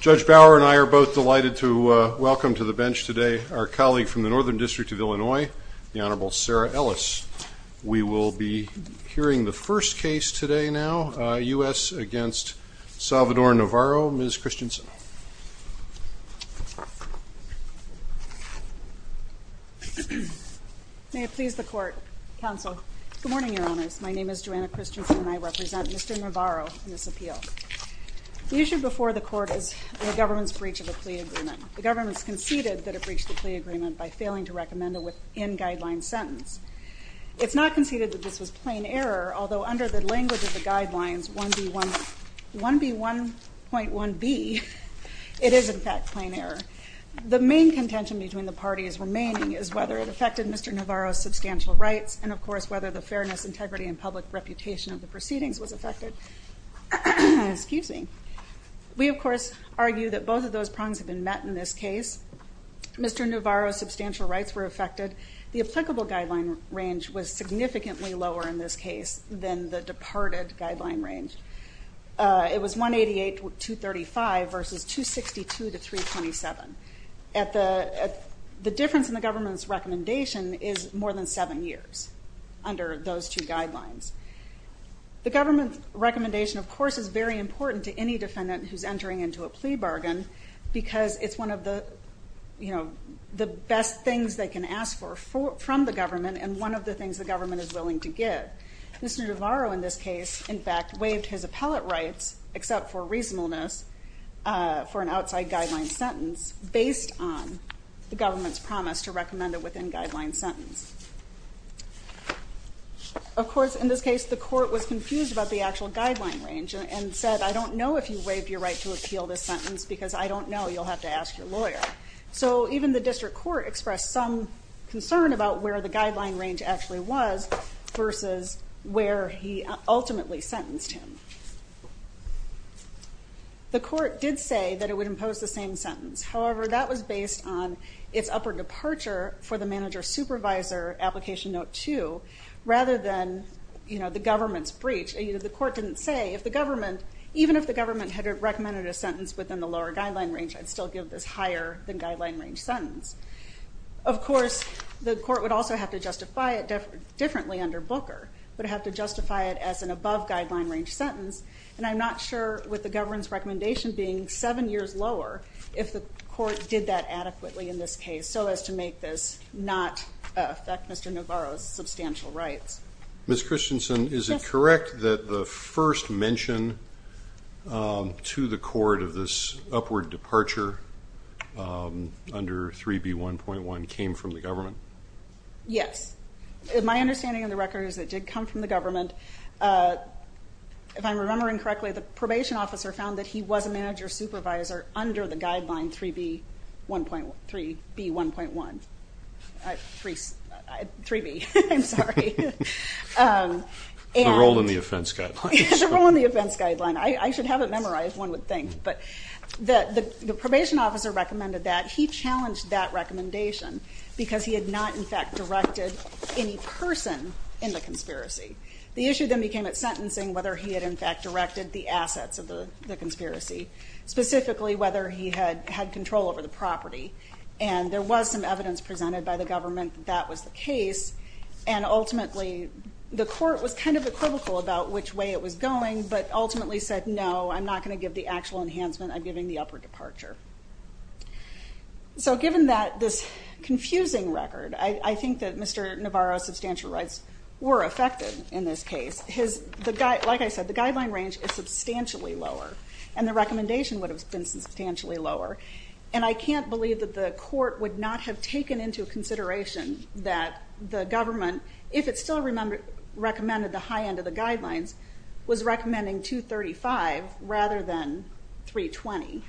Judge Bauer and I are both delighted to welcome to the bench today our colleague from the Northern District of Illinois, the Honorable Sarah Ellis. We will be hearing the first case today now, U.S. v. Salvador Navarro. Ms. Christensen. May it please the Court, Counsel. Good morning, Your Honors. My name is Joanna Christensen and I represent Mr. Navarro in this appeal. The issue before the Court is the government's breach of a plea agreement. The government has conceded that it breached the plea agreement by failing to recommend a within-guideline sentence. It's not conceded that this was plain error, although under the language of the guidelines 1B.1.1b, it is in fact plain error. The main contention between the parties remaining is whether it affected Mr. Navarro's substantial rights and, of course, whether the fairness, integrity, and public reputation of the proceedings was affected. We, of course, argue that both of those prongs have been met in this case. Mr. Navarro's substantial rights were affected. The applicable guideline range was significantly lower in this case than the departed guideline range. It was 188-235 versus 262-327. The difference in the government's recommendation is more than seven years under those two guidelines. The government's recommendation, of course, is very important to any defendant who's entering into a plea bargain because it's one of the best things they can ask for from the government and one of the things the government is willing to give. Mr. Navarro in this case, in fact, waived his appellate rights except for reasonableness for an outside guideline sentence based on the government's promise to recommend a within-guideline sentence. Of course, in this case, the court was confused about the actual guideline range and said, I don't know if you waived your right to appeal this sentence because I don't know. You'll have to ask your lawyer. So even the district court expressed some concern about where the guideline range actually was versus where he ultimately sentenced him. The court did say that it would impose the same sentence. However, that was based on its upper departure for the manager-supervisor application note two, rather than the government's breach. The court didn't say if the government, even if the government had recommended a sentence within the lower guideline range, I'd still give this higher-than-guideline-range sentence. Of course, the court would also have to justify it differently under Booker, would have to justify it as an above-guideline-range sentence, and I'm not sure, with the government's recommendation being seven years lower, if the court did that adequately in this case so as to make this not affect Mr. Navarro's substantial rights. Ms. Christensen, is it correct that the first mention to the court of this upward departure under 3B1.1 came from the government? Yes. My understanding of the record is it did come from the government. If I'm remembering correctly, the probation officer found that he was a manager-supervisor under the guideline 3B1.1. 3B, I'm sorry. The role in the offense guideline. The role in the offense guideline. I should have it memorized, one would think. But the probation officer recommended that. He challenged that recommendation because he had not, in fact, directed any person in the conspiracy. The issue then became at sentencing whether he had, in fact, directed the assets of the conspiracy, specifically whether he had control over the property. And there was some evidence presented by the government that that was the case, and ultimately the court was kind of equivocal about which way it was going, but ultimately said, no, I'm not going to give the actual enhancement. I'm giving the upward departure. So given this confusing record, I think that Mr. Navarro's substantial rights were affected in this case. Like I said, the guideline range is substantially lower, and the recommendation would have been substantially lower. And I can't believe that the court would not have taken into consideration that the government, if it still recommended the high end of the guidelines, was recommending 235 rather than 320.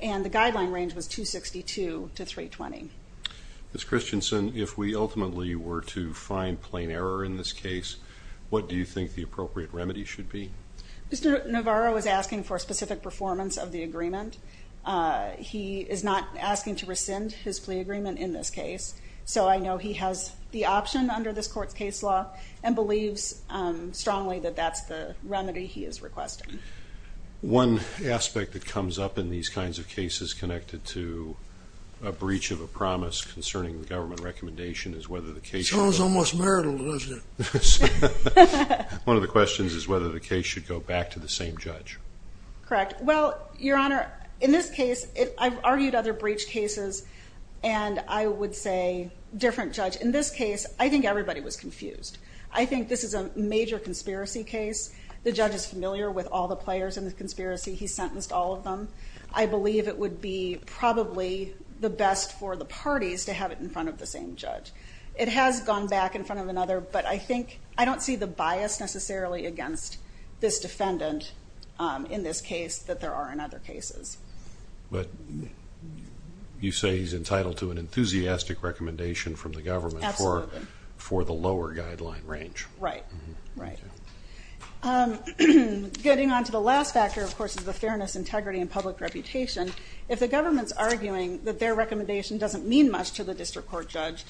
And the guideline range was 262 to 320. Ms. Christensen, if we ultimately were to find plain error in this case, what do you think the appropriate remedy should be? Mr. Navarro was asking for specific performance of the agreement. He is not asking to rescind his plea agreement in this case. So I know he has the option under this court's case law and believes strongly that that's the remedy he is requesting. One aspect that comes up in these kinds of cases connected to a breach of a promise concerning the government recommendation is whether the case should go back. Sounds almost marital, doesn't it? One of the questions is whether the case should go back to the same judge. Correct. Well, Your Honor, in this case, I've argued other breach cases, and I would say different judge. In this case, I think everybody was confused. I think this is a major conspiracy case. The judge is familiar with all the players in the conspiracy. He sentenced all of them. I believe it would be probably the best for the parties to have it in front of the same judge. It has gone back in front of another, but I don't see the bias necessarily against this defendant in this case that there are in other cases. But you say he's entitled to an enthusiastic recommendation from the government for the lower guideline range. Right, right. Getting on to the last factor, of course, is the fairness, integrity, and public reputation. If the government is arguing that their recommendation doesn't mean much to the district court judge,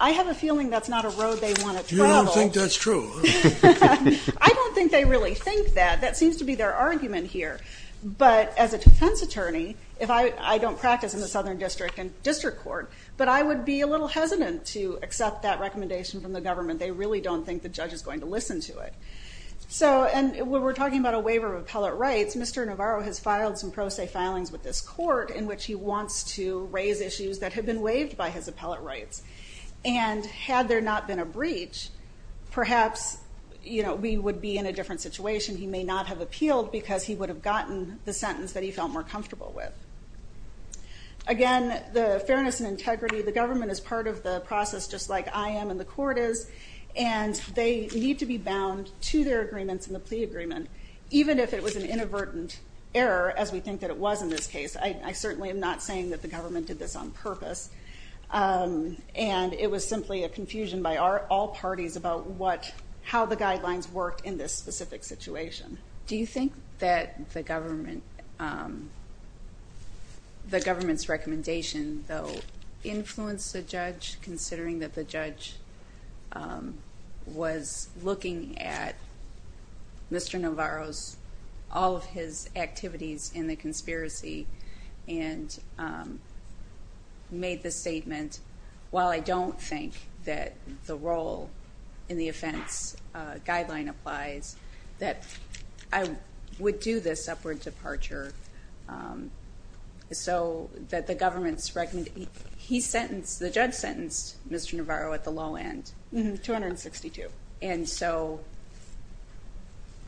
I have a feeling that's not a road they want to travel. You don't think that's true? I don't think they really think that. That seems to be their argument here. But as a defense attorney, I don't practice in the Southern District Court, but I would be a little hesitant to accept that recommendation from the government. They really don't think the judge is going to listen to it. When we're talking about a waiver of appellate rights, Mr. Navarro has filed some pro se filings with this court in which he wants to raise issues that have been waived by his appellate rights. And had there not been a breach, perhaps we would be in a different situation. He may not have appealed because he would have gotten the sentence that he felt more comfortable with. Again, the fairness and integrity, the government is part of the process, just like I am and the court is, and they need to be bound to their agreements and the plea agreement, even if it was an inadvertent error, as we think that it was in this case. I certainly am not saying that the government did this on purpose, and it was simply a confusion by all parties about how the guidelines worked in this specific situation. Do you think that the government's recommendation, though, influenced the judge, considering that the judge was looking at Mr. Navarro's all of his activities in the conspiracy and made the statement, while I don't think that the role in the offense guideline applies, that I would do this upward departure so that the government's recommendation he sentenced, the judge sentenced Mr. Navarro at the low end. 262. And so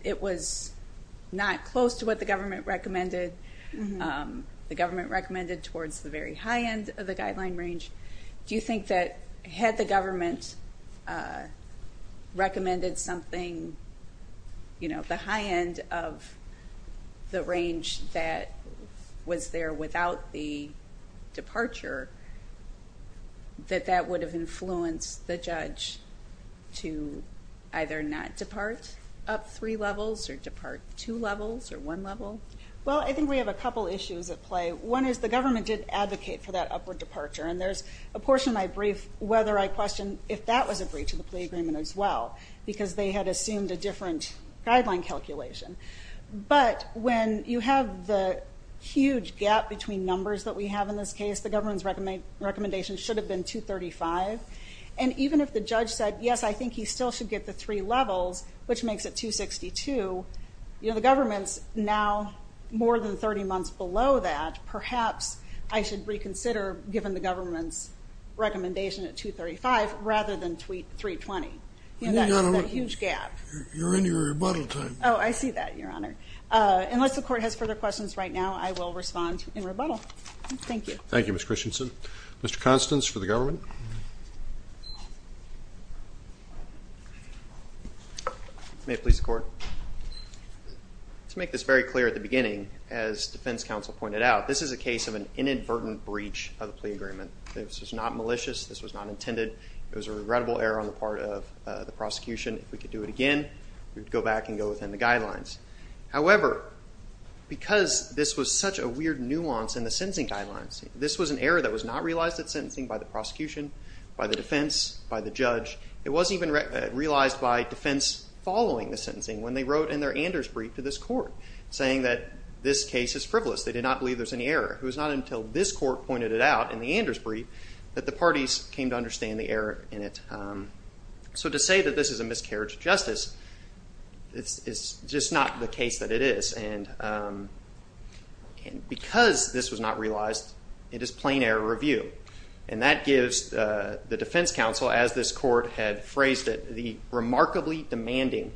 it was not close to what the government recommended. The government recommended towards the very high end of the guideline range. Do you think that had the government recommended something, you know, the high end of the range that was there without the departure, that that would have influenced the judge to either not depart up three levels or depart two levels or one level? Well, I think we have a couple issues at play. One is the government did advocate for that upward departure, and there's a portion of my brief whether I question if that was a breach of the plea agreement as well, because they had assumed a different guideline calculation. But when you have the huge gap between numbers that we have in this case, the government's recommendation should have been 235. And even if the judge said, yes, I think he still should get the three levels, which makes it 262, you know, the government's now more than 30 months below that. Perhaps I should reconsider giving the government's recommendation at 235 rather than 320. You know, that huge gap. You're in your rebuttal time. Oh, I see that, Your Honor. Unless the court has further questions right now, I will respond in rebuttal. Thank you. Thank you, Ms. Christensen. Mr. Constance for the government. May it please the Court. To make this very clear at the beginning, as defense counsel pointed out, this is a case of an inadvertent breach of the plea agreement. This was not malicious. This was not intended. It was a regrettable error on the part of the prosecution. If we could do it again, we would go back and go within the guidelines. However, because this was such a weird nuance in the sentencing guidelines, this was an error that was not realized at sentencing by the prosecution, by the defense, by the judge. It wasn't even realized by defense following the sentencing when they wrote in their Anders brief to this court, saying that this case is frivolous. They did not believe there was any error. It was not until this court pointed it out in the Anders brief that the parties came to understand the error in it. To say that this is a miscarriage of justice is just not the case that it is. Because this was not realized, it is plain error review. That gives the defense counsel, as this court had phrased it, the remarkably demanding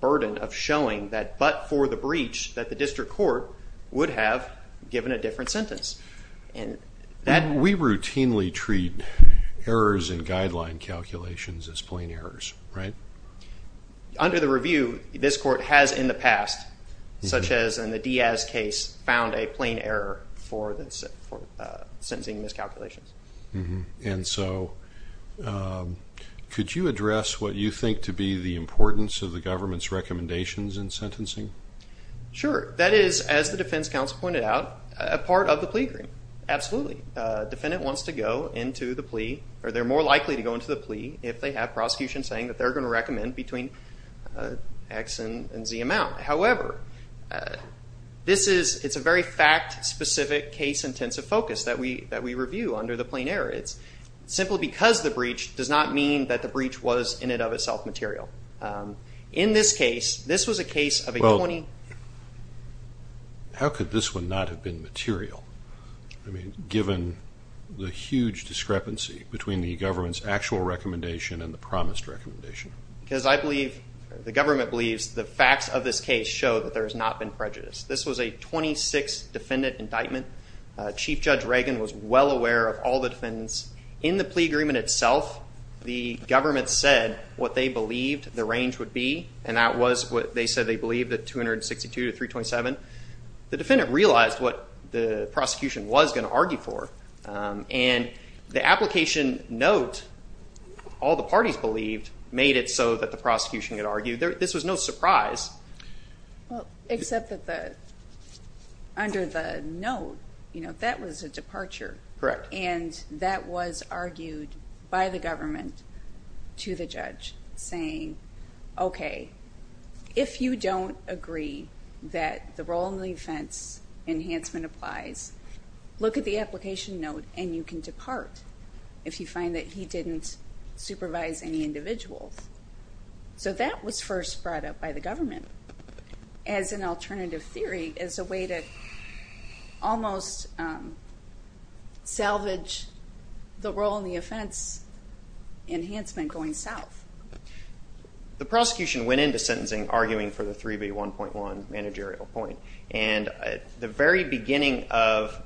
burden of showing that but for the breach that the district court would have given a different sentence. We routinely treat errors in guideline calculations as plain errors, right? Under the review, this court has in the past, such as in the Diaz case, found a plain error for sentencing miscalculations. Could you address what you think to be the importance of the government's recommendations in sentencing? Sure. That is, as the defense counsel pointed out, a part of the plea agreement. Absolutely. A defendant wants to go into the plea, or they're more likely to go into the plea, if they have prosecution saying that they're going to recommend between X and Z amount. However, it's a very fact-specific, case-intensive focus that we review under the plain error. It's simply because the breach does not mean that the breach was, in and of itself, material. In this case, this was a case of a 20- How could this one not have been material, given the huge discrepancy between the government's actual recommendation and the promised recommendation? Because I believe, the government believes, the facts of this case show that there has not been prejudice. This was a 26-defendant indictment. Chief Judge Reagan was well aware of all the defendants. In the plea agreement itself, the government said what they believed the range would be, and that was what they said they believed, at 262 to 327. The defendant realized what the prosecution was going to argue for, and the application note, all the parties believed, made it so that the prosecution could argue. This was no surprise. Except that under the note, that was a departure. Correct. And that was argued by the government to the judge, saying, okay, if you don't agree that the role in the offense enhancement applies, look at the application note, and you can depart if you find that he didn't supervise any individuals. So that was first brought up by the government as an alternative theory, as a way to almost salvage the role in the offense enhancement going south. The prosecution went into sentencing arguing for the 3B1.1 managerial point, and at the very beginning of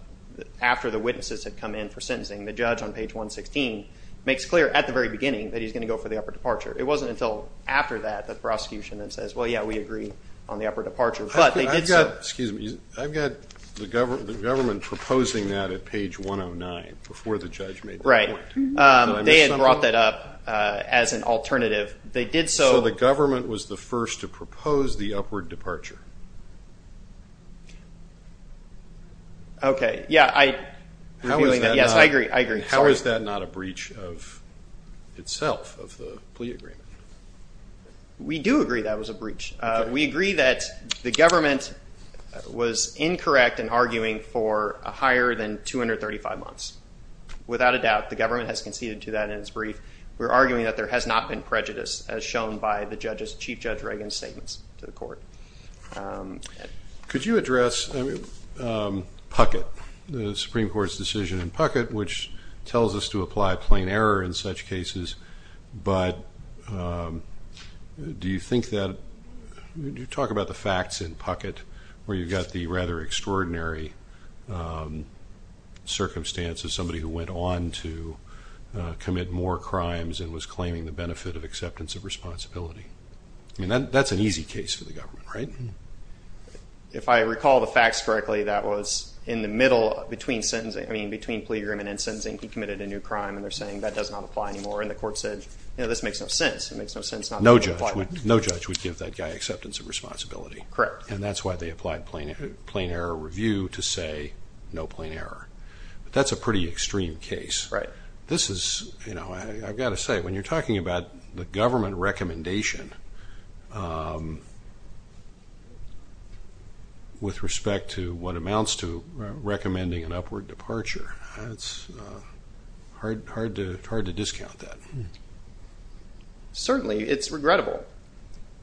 after the witnesses had come in for sentencing, the judge on page 116 makes clear at the very beginning that he's going to go for the upper departure. It wasn't until after that that the prosecution then says, well, yeah, we agree on the upper departure. But they did so. Excuse me. I've got the government proposing that at page 109 before the judge made the point. Right. They had brought that up as an alternative. They did so. So the government was the first to propose the upward departure. Okay. Yeah. Yes, I agree. I agree. How is that not a breach of itself, of the plea agreement? We do agree that was a breach. We agree that the government was incorrect in arguing for a higher than 235 months. Without a doubt, the government has conceded to that in its brief. We're arguing that there has not been prejudice, as shown by the Chief Judge Reagan's statements to the court. Could you address Puckett, the Supreme Court's decision in Puckett, which tells us to apply plain error in such cases, but do you think that you talk about the facts in Puckett where you've got the rather extraordinary circumstances, somebody who went on to commit more crimes and was claiming the benefit of acceptance of responsibility. I mean, that's an easy case for the government, right? If I recall the facts correctly, that was in the middle between sentencing. I mean, between plea agreement and sentencing, he committed a new crime, and they're saying that does not apply anymore, and the court said, you know, this makes no sense. No judge would give that guy acceptance of responsibility. Correct. And that's why they applied plain error review to say no plain error. But that's a pretty extreme case. Right. This is, you know, I've got to say, when you're talking about the government recommendation with respect to what amounts to recommending an upward departure, it's hard to discount that. Certainly. It's regrettable.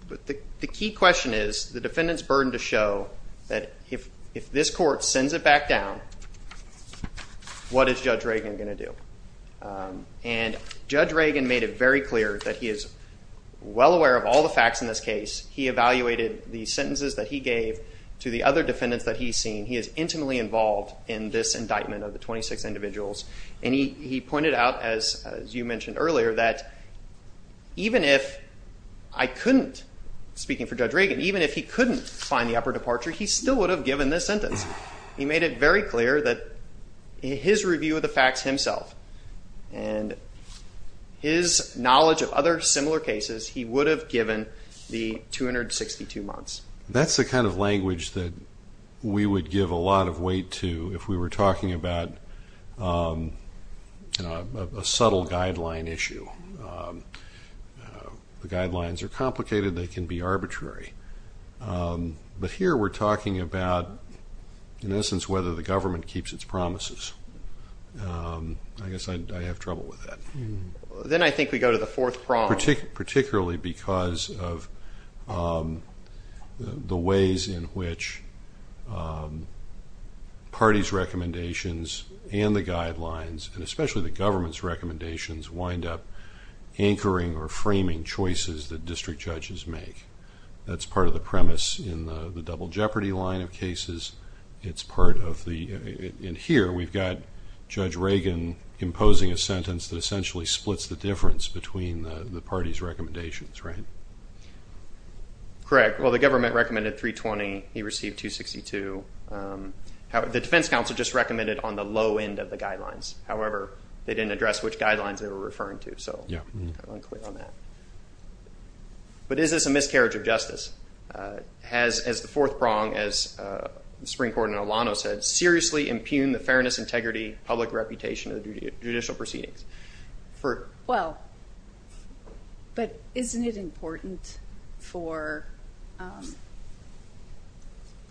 But the key question is the defendant's burden to show that if this court sends it back down, what is Judge Reagan going to do? And Judge Reagan made it very clear that he is well aware of all the facts in this case. He evaluated the sentences that he gave to the other defendants that he's seen. He is intimately involved in this indictment of the 26 individuals, and he pointed out, as you mentioned earlier, that even if I couldn't, speaking for Judge Reagan, even if he couldn't find the upward departure, he still would have given this sentence. He made it very clear that his review of the facts himself and his knowledge of other similar cases, he would have given the 262 months. That's the kind of language that we would give a lot of weight to if we were talking about a subtle guideline issue. The guidelines are complicated. They can be arbitrary. But here we're talking about, in essence, whether the government keeps its promises. I guess I have trouble with that. Then I think we go to the fourth problem. Particularly because of the ways in which parties' recommendations and the guidelines, and especially the government's recommendations, wind up anchoring or framing choices that district judges make. That's part of the premise in the double jeopardy line of cases. Here we've got Judge Reagan imposing a sentence that essentially splits the difference between the parties' recommendations. Correct. Well, the government recommended 320. He received 262. The defense counsel just recommended on the low end of the guidelines. However, they didn't address which guidelines they were referring to. So I'm unclear on that. But is this a miscarriage of justice? Has the fourth prong, as the Supreme Court and Alano said, seriously impugned the fairness, integrity, public reputation of judicial proceedings? Well, but isn't it important for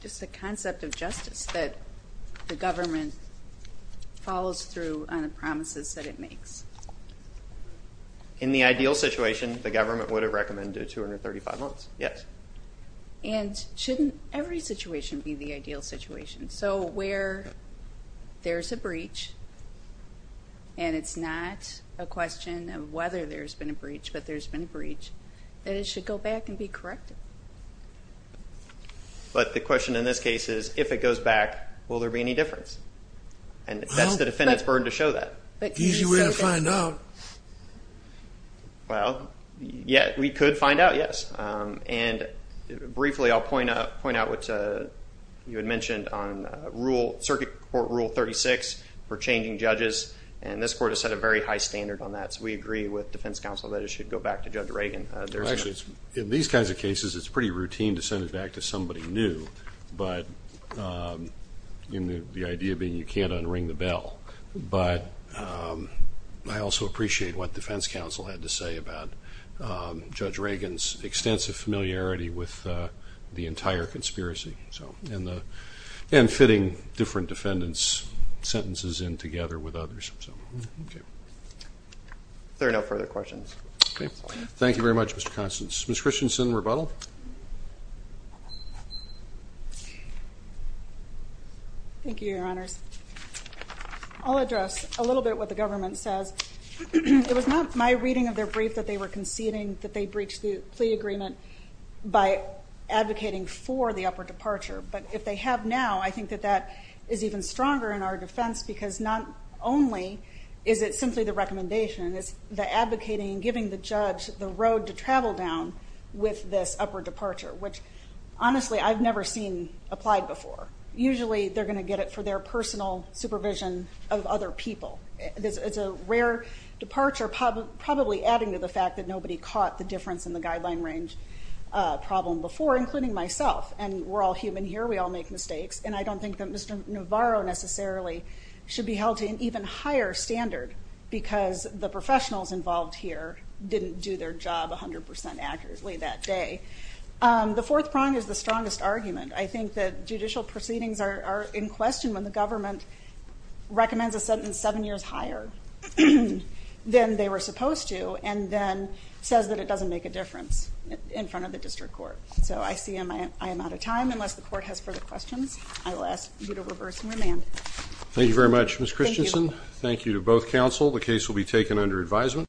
just the concept of justice that the government follows through on the promises that it makes? In the ideal situation, the government would have recommended 235 months, yes. And shouldn't every situation be the ideal situation? So where there's a breach, and it's not a question of whether there's been a breach, but there's been a breach, then it should go back and be corrected. But the question in this case is, if it goes back, will there be any difference? And that's the defendant's burden to show that. Easy way to find out. Well, we could find out, yes. And briefly, I'll point out what you had mentioned on circuit court rule 36 for changing judges, and this court has set a very high standard on that. So we agree with defense counsel that it should go back to Judge Reagan. Actually, in these kinds of cases, it's pretty routine to send it back to somebody new, but the idea being you can't unring the bell. But I also appreciate what defense counsel had to say about Judge Reagan's extensive familiarity with the entire conspiracy and fitting different defendants' sentences in together with others. If there are no further questions. Thank you very much, Mr. Constance. Ms. Christensen, rebuttal. Thank you, Your Honors. I'll address a little bit what the government says. It was not my reading of their brief that they were conceding that they breached the plea agreement by advocating for the upper departure. But if they have now, I think that that is even stronger in our defense, because not only is it simply the recommendation, it's the advocating and giving the judge the road to travel down with this upper departure, which honestly I've never seen applied before. Usually they're going to get it for their personal supervision of other people. It's a rare departure, probably adding to the fact that nobody caught the difference in the guideline range problem before, including myself. And we're all human here. We all make mistakes. And I don't think that Mr. Navarro necessarily should be held to an even higher standard because the professionals involved here didn't do their job 100% accurately that day. The fourth prong is the strongest argument. I think that judicial proceedings are in question when the government recommends a sentence seven years higher than they were supposed to and then says that it doesn't make a difference in front of the district court. So I see I am out of time. Unless the court has further questions, I will ask you to reverse and remand. Thank you very much, Ms. Christensen. Thank you to both counsel. The case will be taken under advisement.